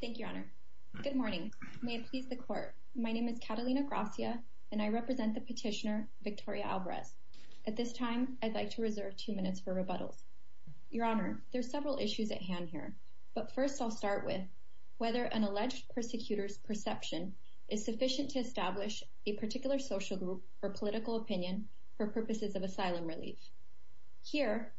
Thank you, Your Honor. Good morning. May it please the Court. My name is Catalina Gracia, and I represent the petitioner Victoria Alvarez. At this time, I'd like to reserve two minutes for rebuttals. Your Honor, there are several issues at hand here, but first I'll start with whether an alleged persecutor's perception is sufficient to establish a particular social group or political opinion for purposes of asylum relief. Here,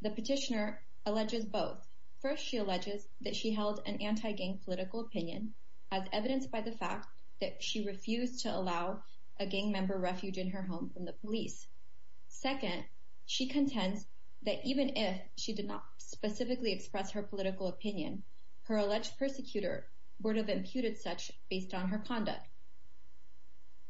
the petitioner alleges both. First, she alleges that she held an anti-gang political opinion, as evidenced by the fact that she refused to allow a gang member refuge in her home from the police. Second, she contends that even if she did not specifically express her political opinion, her alleged persecutor would have imputed such based on her conduct.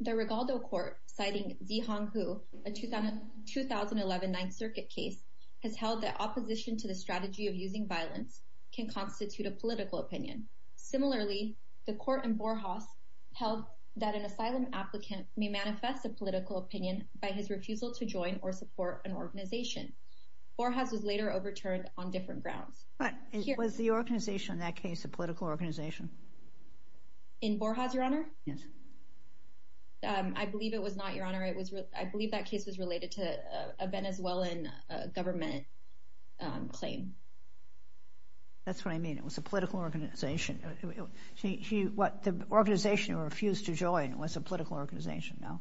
The Rigaldo Court, citing Zi Hong Hu, a 2011 Ninth Circuit case, has held that opposition to the strategy of using violence can constitute a political opinion. Similarly, the Court in Borjas held that an asylum applicant may manifest a political opinion by his refusal to join or support an organization. Borjas was later overturned on different grounds. Was the organization in that case a political organization? In Borjas, Your Honor? Yes. I believe it was not, Your Honor. I believe that case was related to a Venezuelan government claim. That's what I mean. It was a political organization. The organization who refused to join was a political organization, no?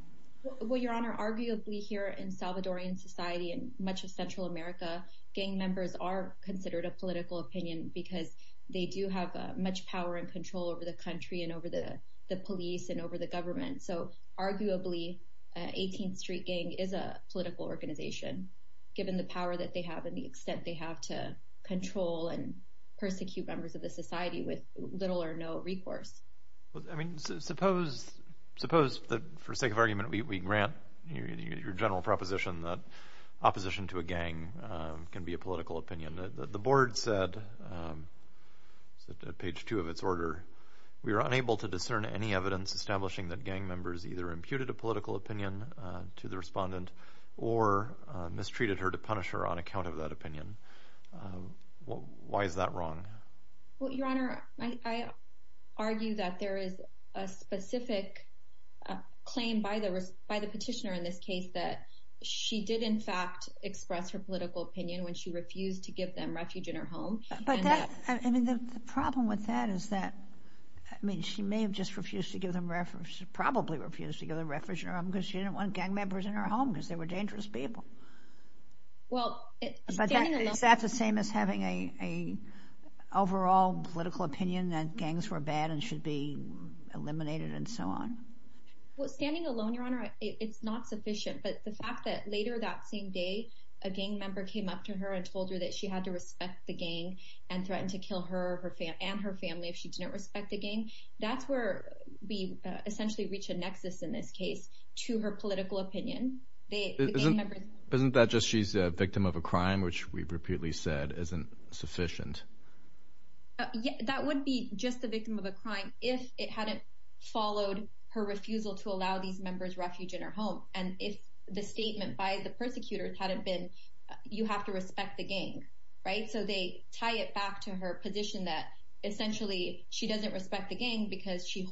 Well, Your Honor, arguably here in Salvadorian society and much of Central America, gang members are considered a political opinion because they do have much power and control over the country and over the police and over the government. So, arguably, 18th Street Gang is a political organization, given the power that they have and the extent they have to control and persecute members of the society with little or no recourse. I mean, suppose that, for sake of argument, we grant your general proposition that opposition to a gang can be a political opinion. The Board said, at page 2 of its order, we were unable to discern any evidence establishing that gang members either imputed a political opinion to the respondent or mistreated her to punish her on account of that opinion. Why is that wrong? Well, Your Honor, I argue that there is a specific claim by the petitioner in this case that she did, in fact, express her political opinion when she refused to give them refuge in her home. But that, I mean, the problem with that is that, I mean, she may have just refused to give them refuge, probably refused to give them refuge in her home because she didn't want gang members in her home because they were dangerous people. But is that the same as having an overall political opinion that gangs were bad and should be eliminated and so on? Well, standing alone, Your Honor, it's not sufficient. But the fact that later that same day, a gang member came up to her and told her that she had to respect the gang and threatened to kill her and her family if she didn't respect the gang, that's where we essentially reach a nexus in this case to her political opinion. Isn't that just she's a victim of a crime, which we've repeatedly said isn't sufficient? That would be just a victim of a crime if it hadn't followed her refusal to allow these members refuge in her home. And if the statement by the persecutors hadn't been, you have to respect the gang, right? So they tie it back to her position that essentially she doesn't respect the gang because she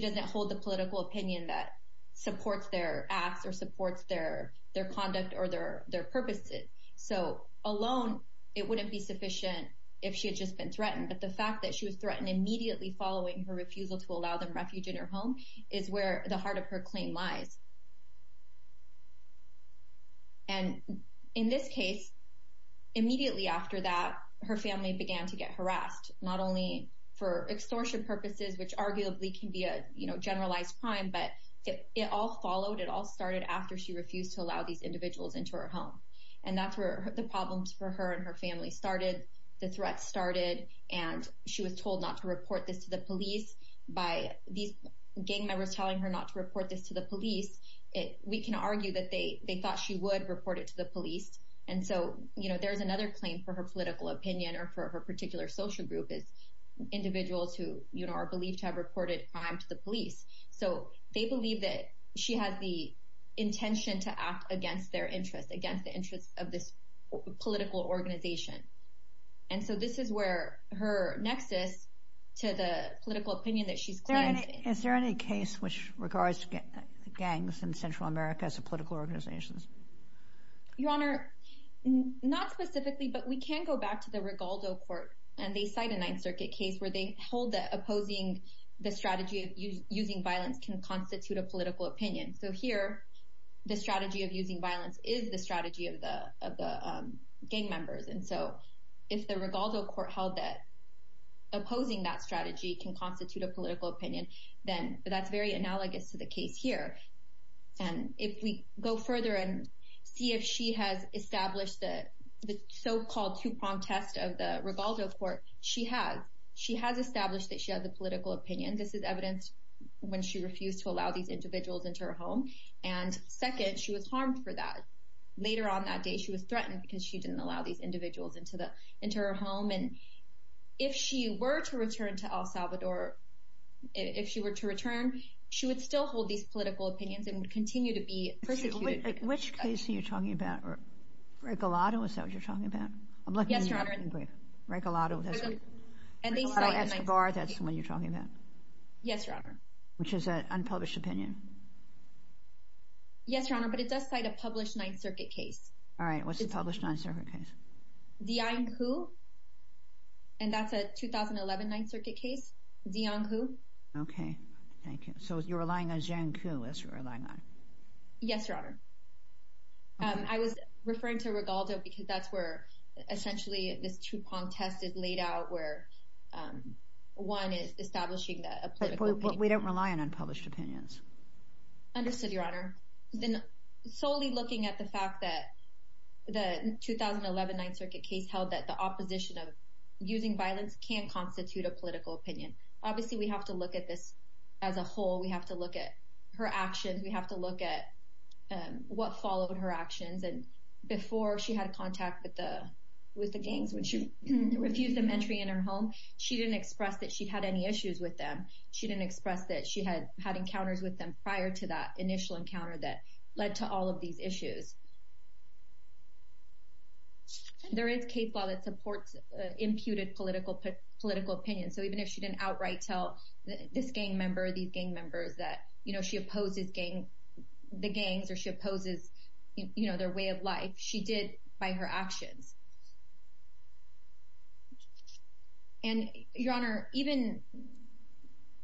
doesn't hold the political opinion that supports their acts or supports their conduct or their purposes. So alone, it wouldn't be sufficient if she had just been threatened. But the fact that she was threatened immediately following her refusal to allow them refuge in her home is where the heart of her claim lies. And in this case, immediately after that, her family began to get harassed, not only for extortion purposes, which arguably can be a generalized crime, but it all followed. It all started after she refused to allow these individuals into her home. And that's where the problems for her and her family started. The threat started and she was told not to report this to the police. By these gang members telling her not to report this to the police, we can argue that they thought she would report it to the police. And so there's another claim for her political opinion or for her particular social group is individuals who are believed to have reported crime to the police. So they believe that she has the intention to act against their interests, against the interests of this political organization. And so this is where her nexus to the political opinion that she's claiming. Is there any case which regards gangs in Central America as a political organization? Your Honor, not specifically, but we can go back to the Rigaldo court. And they cite a Ninth Circuit case where they hold that opposing the strategy of using violence can constitute a political opinion. So here, the strategy of using violence is the strategy of the gang members. And so if the Rigaldo court held that opposing that strategy can constitute a political opinion, then that's very analogous to the case here. And if we go further and see if she has established the so-called two-pronged test of the Rigaldo court, she has. She has established that she has a political opinion. This is evidenced when she refused to allow these individuals into her home. And second, she was harmed for that. Later on that day, she was threatened because she didn't allow these individuals into her home. And if she were to return to El Salvador, if she were to return, she would still hold these political opinions and would continue to be persecuted. Which case are you talking about? Rigaldo, is that what you're talking about? Yes, Your Honor. Rigaldo Escobar, that's what you're talking about? Yes, Your Honor. Which is an unpublished opinion? Yes, Your Honor, but it does cite a published Ninth Circuit case. All right, what's the published Ninth Circuit case? Diang Hu, and that's a 2011 Ninth Circuit case, Diang Hu. Okay, thank you. So you're relying on Jiang Hu, that's what you're relying on? Yes, Your Honor. I was referring to Rigaldo because that's where essentially this Tupac test is laid out where one is establishing a political opinion. But we don't rely on unpublished opinions. Understood, Your Honor. Then solely looking at the fact that the 2011 Ninth Circuit case held that the opposition of using violence can constitute a political opinion. Obviously, we have to look at this as a whole. We have to look at her actions. We have to look at what followed her actions. And before she had contact with the gangs, when she refused them entry in her home, she didn't express that she had any issues with them. She didn't express that she had encounters with them prior to that initial encounter that led to all of these issues. There is case law that supports imputed political opinions. So even if she didn't outright tell this gang member or these gang members that she opposes the gangs or she opposes their way of life, she did by her actions. And Your Honor, even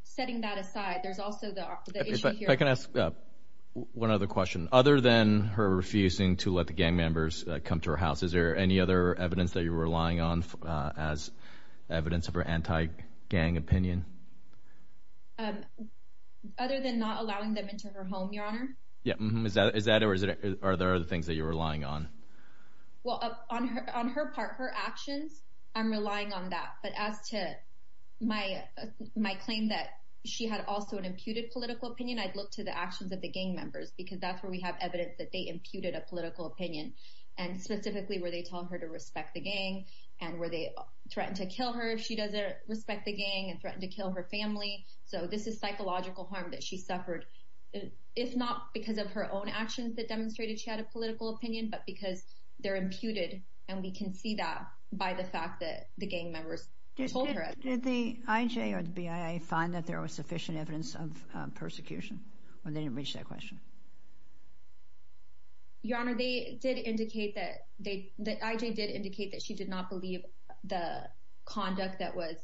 setting that aside, there's also the issue here. If I can ask one other question. Other than her refusing to let the gang members come to her house, is there any other evidence that you're relying on as evidence of her anti-gang opinion? Other than not allowing them into her home, Your Honor? Is that or are there other things that you're relying on? Well, on her part, her actions, I'm relying on that. But as to my claim that she had also an imputed political opinion, I'd look to the actions of the gang members because that's where we have evidence that they imputed a political opinion. And specifically where they tell her to respect the gang and where they threaten to kill her if she doesn't respect the gang and threaten to kill her family. So this is psychological harm that she suffered, if not because of her own actions that demonstrated she had a political opinion, but because they're imputed and we can see that by the fact that the gang members told her. Did the IJ or the BIA find that there was sufficient evidence of persecution when they didn't reach that question? Your Honor, the IJ did indicate that she did not believe the conduct that was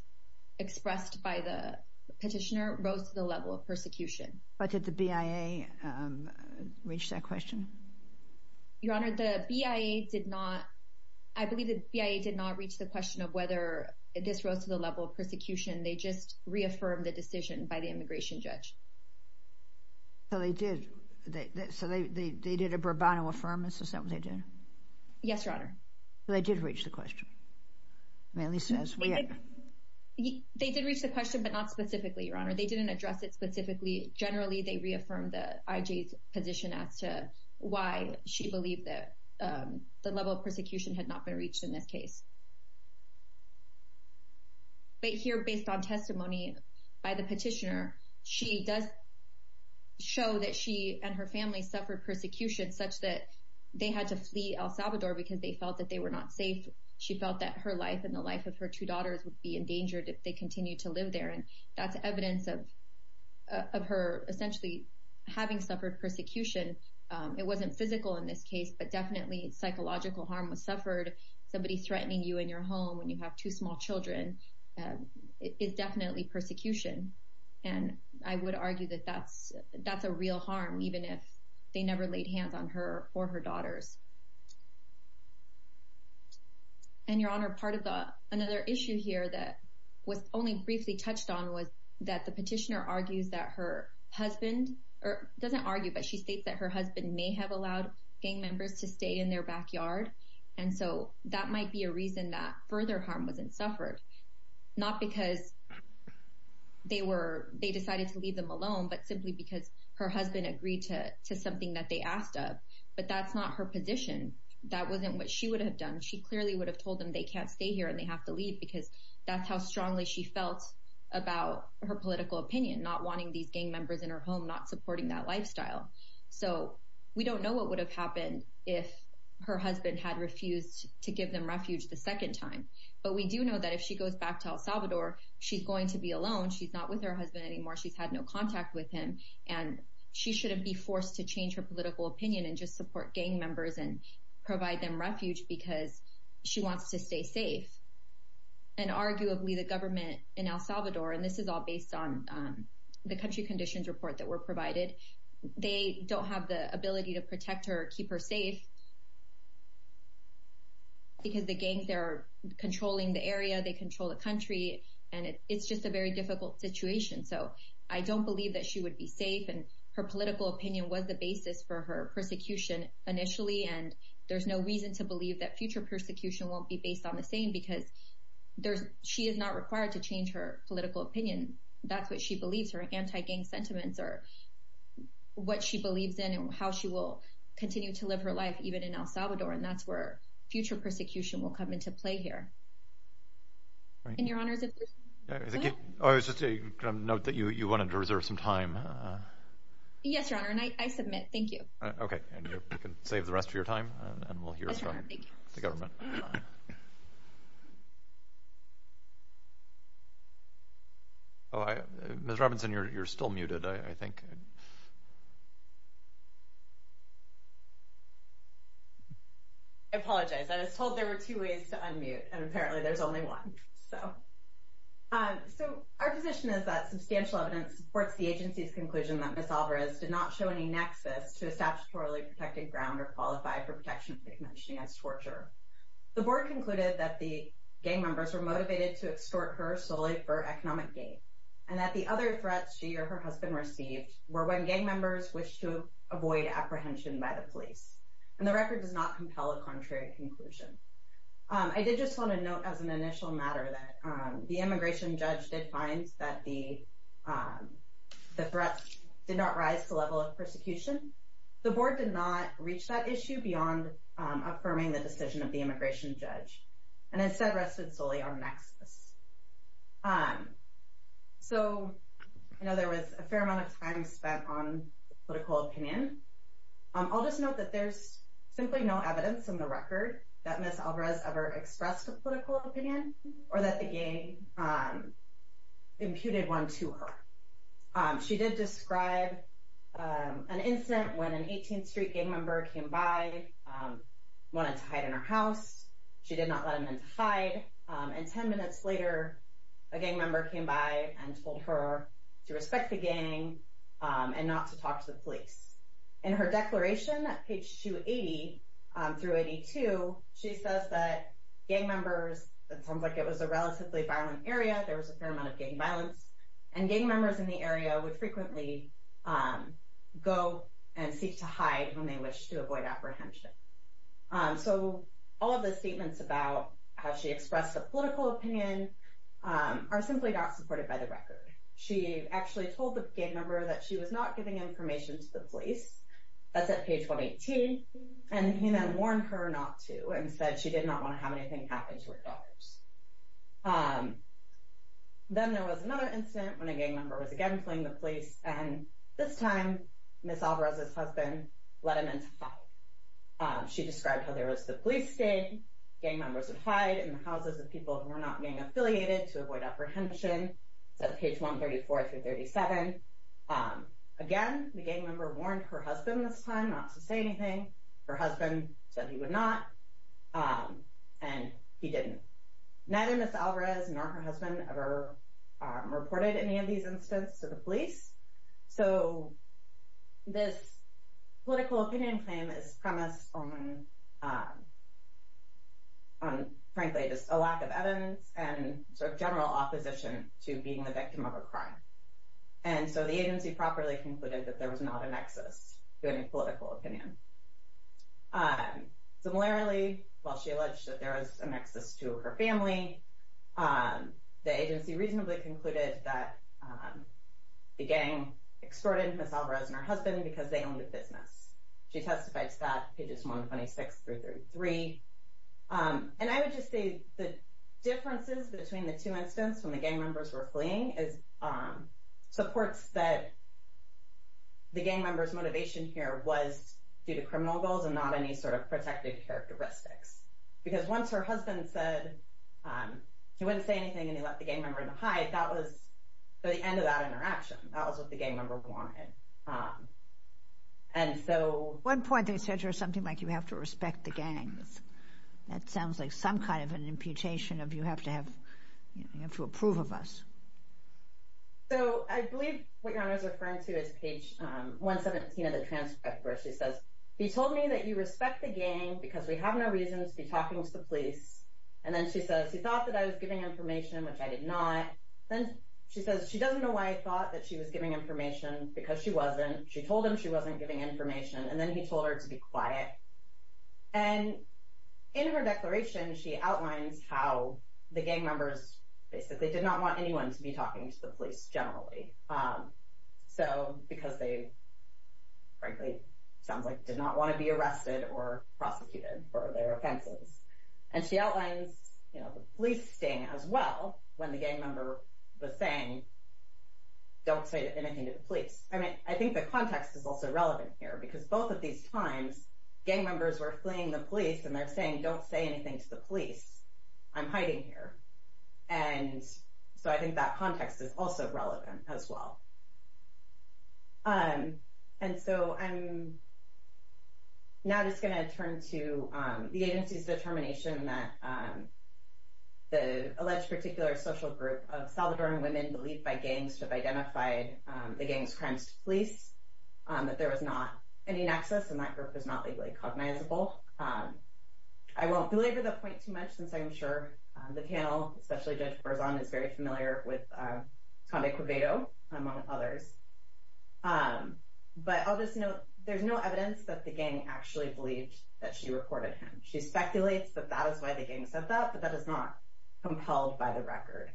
expressed by the petitioner rose to the level of persecution. But did the BIA reach that question? Your Honor, I believe the BIA did not reach the question of whether this rose to the level of persecution. They just reaffirmed the decision by the immigration judge. So they did. So they did a brabant affirmance, is that what they did? Yes, Your Honor. So they did reach the question. They did reach the question, but not specifically, Your Honor. They didn't address it specifically. Generally, they reaffirmed the IJ's position as to why she believed that the level of persecution had not been reached in this case. But here, based on testimony by the petitioner, she does show that she and her family suffered persecution such that they had to flee El Salvador because they felt that they were not safe. She felt that her life and the life of her two daughters would be endangered if they continued to live there. And that's evidence of her essentially having suffered persecution. It wasn't physical in this case, but definitely psychological harm was suffered. Somebody threatening you in your home when you have two small children is definitely persecution. And I would argue that that's a real harm, even if they never laid hands on her or her daughters. And, Your Honor, part of another issue here that was only briefly touched on was that the petitioner argues that her husband – doesn't argue, but she states that her husband may have allowed gang members to stay in their backyard. And so that might be a reason that further harm wasn't suffered. Not because they decided to leave them alone, but simply because her husband agreed to something that they asked of. But that's not her position. That wasn't what she would have done. She clearly would have told them they can't stay here and they have to leave because that's how strongly she felt about her political opinion, not wanting these gang members in her home, not supporting that lifestyle. So we don't know what would have happened if her husband had refused to give them refuge the second time. But we do know that if she goes back to El Salvador, she's going to be alone. She's not with her husband anymore. She's had no contact with him. And she shouldn't be forced to change her political opinion and just support gang members and provide them refuge because she wants to stay safe. And arguably the government in El Salvador – and this is all based on the country conditions report that were provided – they don't have the ability to protect her or keep her safe because the gangs are controlling the area, they control the country. And it's just a very difficult situation. So I don't believe that she would be safe and her political opinion was the basis for her persecution initially. And there's no reason to believe that future persecution won't be based on the same because she is not required to change her political opinion. That's what she believes, her anti-gang sentiments are what she believes in and how she will continue to live her life even in El Salvador. And that's where future persecution will come into play here. And Your Honor, is there something else? I was just going to note that you wanted to reserve some time. Yes, Your Honor, and I submit. Thank you. Okay. And you can save the rest of your time and we'll hear from the government. Yes, Your Honor. Thank you. Ms. Robinson, you're still muted, I think. I apologize. I was told there were two ways to unmute and apparently there's only one. So our position is that substantial evidence supports the agency's conclusion that Ms. Alvarez did not show any nexus to a statutorily protected ground or qualify for protection of the Convention against Torture. The board concluded that the gang members were motivated to extort her solely for economic gain and that the other threats she or her husband received were when gang members wished to avoid apprehension by the police. And the record does not compel a contrary conclusion. I did just want to note as an initial matter that the immigration judge did find that the threats did not rise to the level of persecution. The board did not reach that issue beyond affirming the decision of the immigration judge and instead rested solely on nexus. So I know there was a fair amount of time spent on political opinion. I'll just note that there's simply no evidence in the record that Ms. Alvarez ever expressed a political opinion or that the gang imputed one to her. She did describe an incident when an 18th Street gang member came by, wanted to hide in her house. She did not let him in to hide. And ten minutes later, a gang member came by and told her to respect the gang and not to talk to the police. In her declaration at page 280 through 82, she says that gang members, it sounds like it was a relatively violent area, there was a fair amount of gang violence, and gang members in the area would frequently go and seek to hide when they wished to avoid apprehension. So all of the statements about how she expressed a political opinion are simply not supported by the record. She actually told the gang member that she was not giving information to the police. That's at page 118. And he then warned her not to and said she did not want to have anything happen to her daughters. Then there was another incident when a gang member was again playing the police, and this time Ms. Alvarez's husband let him in to hide. She described how there was the police staying, gang members would hide in the houses of people who were not being affiliated to avoid apprehension. That's page 134 through 37. Again, the gang member warned her husband this time not to say anything. Her husband said he would not, and he didn't. Neither Ms. Alvarez nor her husband ever reported any of these incidents to the police. So this political opinion claim is premised on, frankly, just a lack of evidence and general opposition to being the victim of a crime. And so the agency properly concluded that there was not a nexus to any political opinion. Similarly, while she alleged that there was a nexus to her family, the agency reasonably concluded that the gang extorted Ms. Alvarez and her husband because they owned a business. She testifies to that, pages 126 through 33. And I would just say the differences between the two incidents when the gang members were fleeing supports that the gang member's motivation here was due to criminal goals and not any sort of protective characteristics. Because once her husband said he wouldn't say anything and he let the gang member in to hide, that was the end of that interaction. That was what the gang member wanted. At one point they said something like you have to respect the gangs. That sounds like some kind of an imputation of you have to approve of us. So I believe what you're referring to is page 117 of the transcript where she says, He told me that you respect the gang because we have no reason to be talking to the police. And then she says, he thought that I was giving information, which I did not. Then she says, she doesn't know why I thought that she was giving information because she wasn't. She told him she wasn't giving information and then he told her to be quiet. And in her declaration she outlines how the gang members basically did not want anyone to be talking to the police generally. So because they frankly sounds like did not want to be arrested or prosecuted for their offenses. And she outlines the police staying as well when the gang member was saying, don't say anything to the police. I mean, I think the context is also relevant here because both of these times gang members were fleeing the police and they're saying, don't say anything to the police, I'm hiding here. And so I think that context is also relevant as well. And so I'm now just going to turn to the agency's determination that the alleged particular social group of Salvadoran women believed by gangs to have identified the gang's crimes to police, that there was not any nexus and that group is not legally cognizable. I won't belabor the point too much since I'm sure the panel, especially Judge Berzon is very familiar with Condé Cuevado among others. But I'll just note, there's no evidence that the gang actually believed that she reported him. She speculates that that is why the gang said that, but that is not compelled by the record.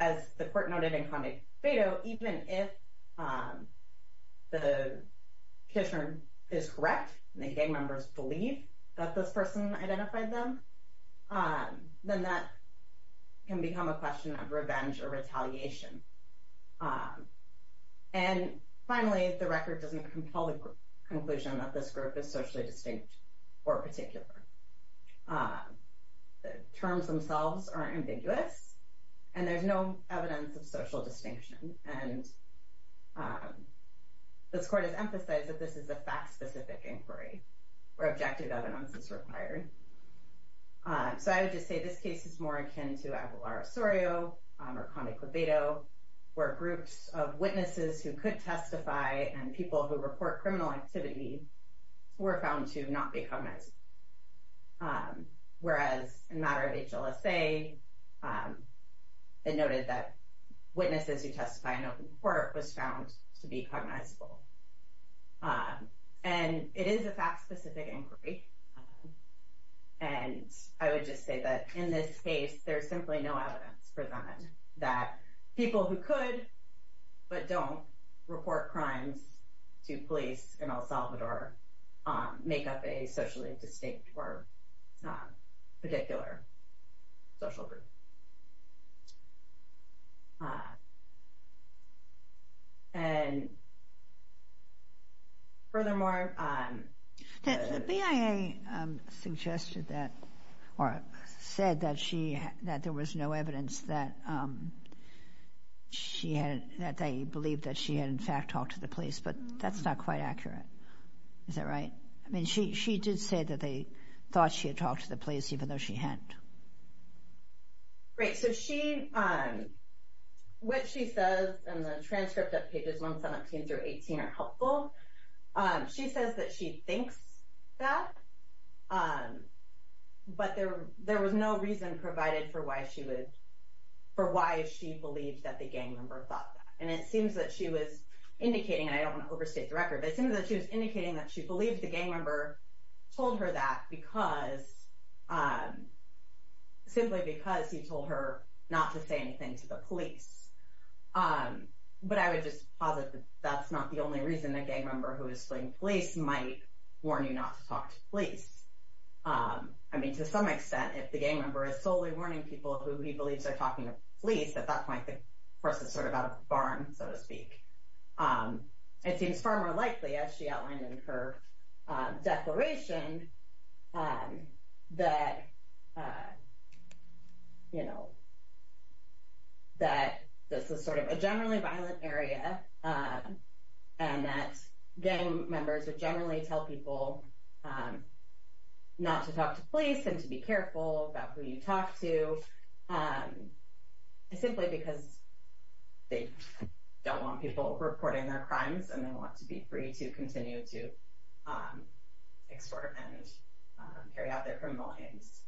As the court noted in Condé Cuevado, even if the petitioner is correct and the gang members believe that this person identified them, then that can become a question of revenge or retaliation. And finally, the record doesn't compel the conclusion that this group is socially distinct or particular. The terms themselves are ambiguous and there's no evidence of social distinction. And this court has emphasized that this is a fact specific inquiry where objective evidence is required. So I would just say this case is more akin to Aguilar Osorio or Condé Cuevado, where groups of witnesses who could testify and people who report criminal activity were found to not be cognizable. Whereas in matter of HLSA, it noted that witnesses who testify in open court was found to be cognizable. And it is a fact specific inquiry, and I would just say that in this case, there's simply no evidence presented that people who could but don't report crimes to police in El Salvador make up a socially distinct or particular social group. And furthermore... The BIA suggested that or said that there was no evidence that they believed that she had in fact talked to the police, but that's not quite accurate. Is that right? I mean, she did say that they thought she had talked to the police, even though she hadn't. Great. So what she says in the transcript of pages 117 through 18 are helpful. She says that she thinks that, but there was no reason provided for why she believed that the gang member thought that. And it seems that she was indicating, and I don't want to overstate the record, but it seems that she was indicating that she believed the gang member told her that simply because he told her not to say anything to the police. But I would just posit that that's not the only reason a gang member who is suing police might warn you not to talk to police. I mean, to some extent, if the gang member is solely warning people who he believes are talking to police, at that point the person is sort of out of the barn, so to speak. It seems far more likely, as she outlined in her declaration, that this is sort of a generally violent area, and that gang members would generally tell people not to talk to police and to be careful about who you talk to. Simply because they don't want people reporting their crimes, and they want to be free to continue to extort and carry out their criminal aims,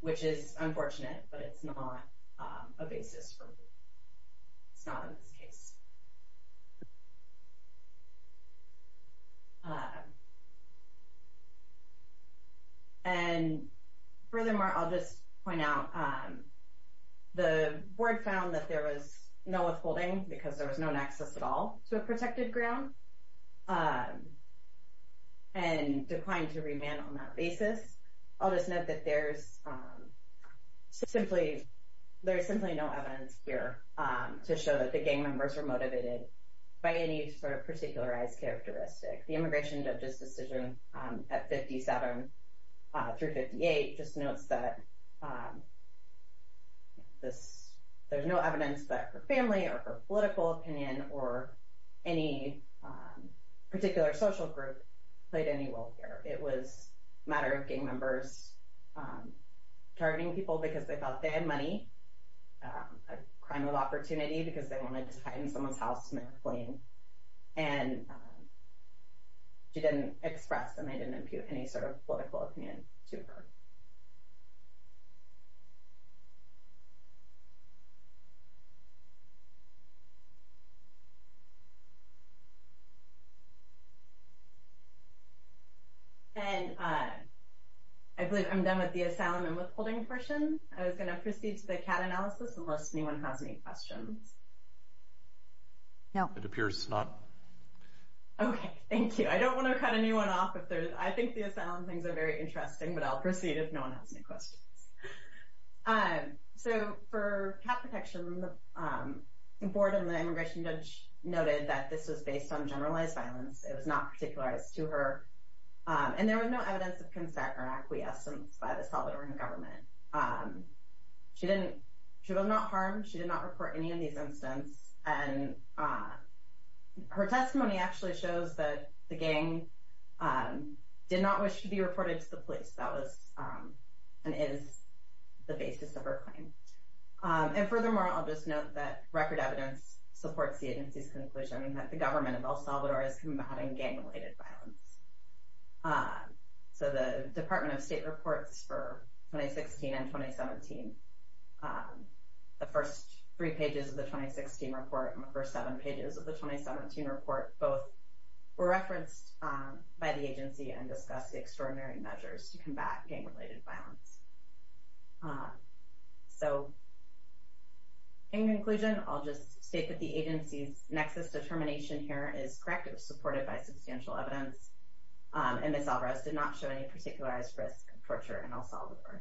which is unfortunate, but it's not a basis for... it's not in this case. And furthermore, I'll just point out, the board found that there was no withholding, because there was no access at all to a protected ground, and declined to remand on that basis. I'll just note that there's simply no evidence here to show that the gang members were motivated by any sort of particularized characteristic. The immigration judge's decision at 57 through 58 just notes that there's no evidence that her family or her political opinion or any particular social group played any role here. It was a matter of gang members targeting people because they thought they had money, a crime of opportunity, because they wanted to hide in someone's house and make a claim. And she didn't express and they didn't impute any sort of political opinion to her. And I believe I'm done with the asylum and withholding portion. I was going to proceed to the CAT analysis, unless anyone has any questions. No. It appears not. Okay, thank you. I don't want to cut anyone off. I think the asylum things are very interesting, but I'll proceed if no one has any questions. So for CAT protection, the board and the immigration judge noted that this was based on generalized violence. It was not particularized to her. And there was no evidence of consent or acquiescence by the Salvadoran government. She was not harmed. She did not report any of these incidents. And her testimony actually shows that the gang did not wish to be reported to the police. That was and is the basis of her claim. And furthermore, I'll just note that record evidence supports the agency's conclusion that the government of El Salvador is combating gang-related violence. So the Department of State reports for 2016 and 2017, the first three pages of the 2016 report and the first seven pages of the 2017 report, both were referenced by the agency and discussed the extraordinary measures to combat gang-related violence. So in conclusion, I'll just state that the agency's nexus determination here is correct. It was supported by substantial evidence. And Ms. Alvarez did not show any particularized risk of torture in El Salvador.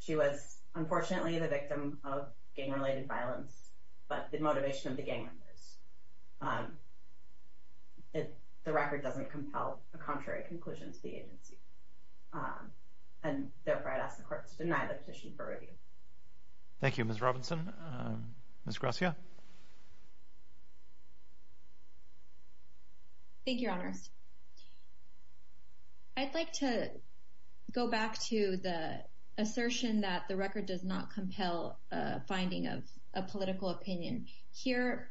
She was unfortunately the victim of gang-related violence, but the motivation of the gang members. The record doesn't compel a contrary conclusion to the agency. And therefore, I'd ask the court to deny the petition for review. Thank you, Ms. Robinson. Ms. Gracia. Thank you, Your Honors. I'd like to go back to the assertion that the record does not compel a finding of a political opinion. Here,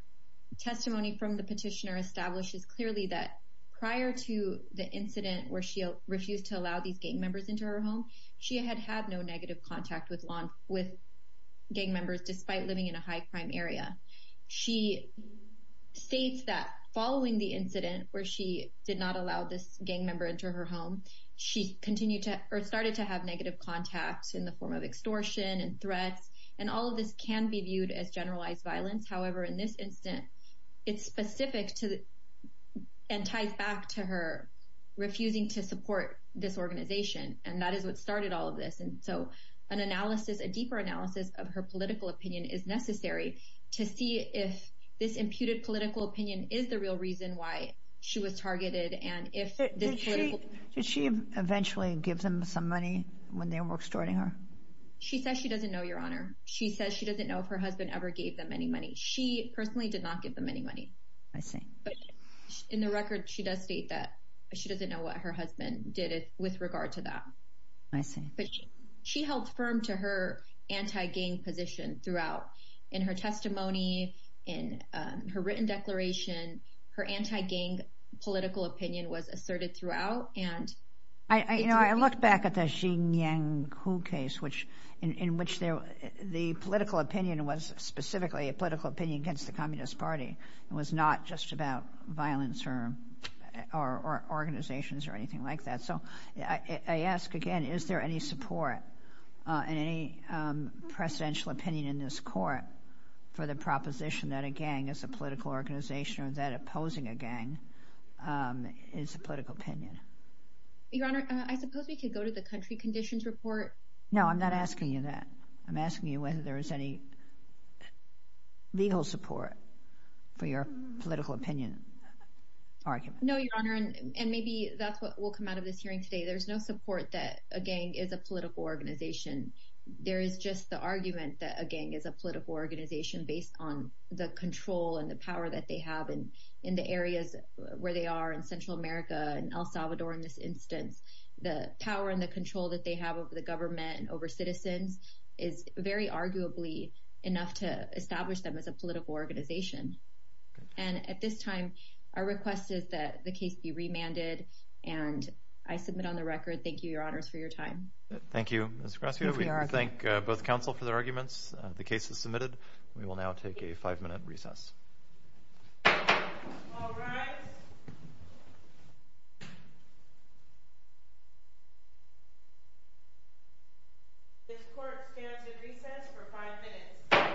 testimony from the petitioner establishes clearly that prior to the incident where she refused to allow these gang members into her home, she had had no negative contact with gang members despite living in a high-crime area. She states that following the incident where she did not allow this gang member into her home, she started to have negative contact in the form of extortion and threats, and all of this can be viewed as generalized violence. However, in this incident, it's specific and ties back to her refusing to support this organization, and that is what started all of this. And so an analysis, a deeper analysis of her political opinion is necessary to see if this imputed political opinion is the real reason why she was targeted and if this political opinion... Did she eventually give them some money when they were extorting her? She says she doesn't know, Your Honor. She says she doesn't know if her husband ever gave them any money. She personally did not give them any money. I see. But in the record, she does state that she doesn't know what her husband did with regard to that. I see. But she held firm to her anti-gang position throughout. In her testimony, in her written declaration, her anti-gang political opinion was asserted throughout, and... You know, I look back at the Xinjiang coup case, in which the political opinion was specifically a political opinion against the Communist Party. It was not just about violence or organizations or anything like that. So I ask again, is there any support and any presidential opinion in this court for the proposition that a gang is a political organization or that opposing a gang is a political opinion? Your Honor, I suppose we could go to the country conditions report. No, I'm not asking you that. I'm asking you whether there is any legal support for your political opinion argument. No, Your Honor, and maybe that's what will come out of this hearing today. There's no support that a gang is a political organization. There is just the argument that a gang is a political organization based on the control and the power that they have in the areas where they are in Central America and El Salvador in this instance. The power and the control that they have over the government and over citizens is very arguably enough to establish them as a political organization. And at this time, our request is that the case be remanded, and I submit on the record, thank you, Your Honors, for your time. Thank you, Ms. Gracia. We thank both counsel for their arguments. The case is submitted. We will now take a five-minute recess. All rise. This court stands in recess for five minutes.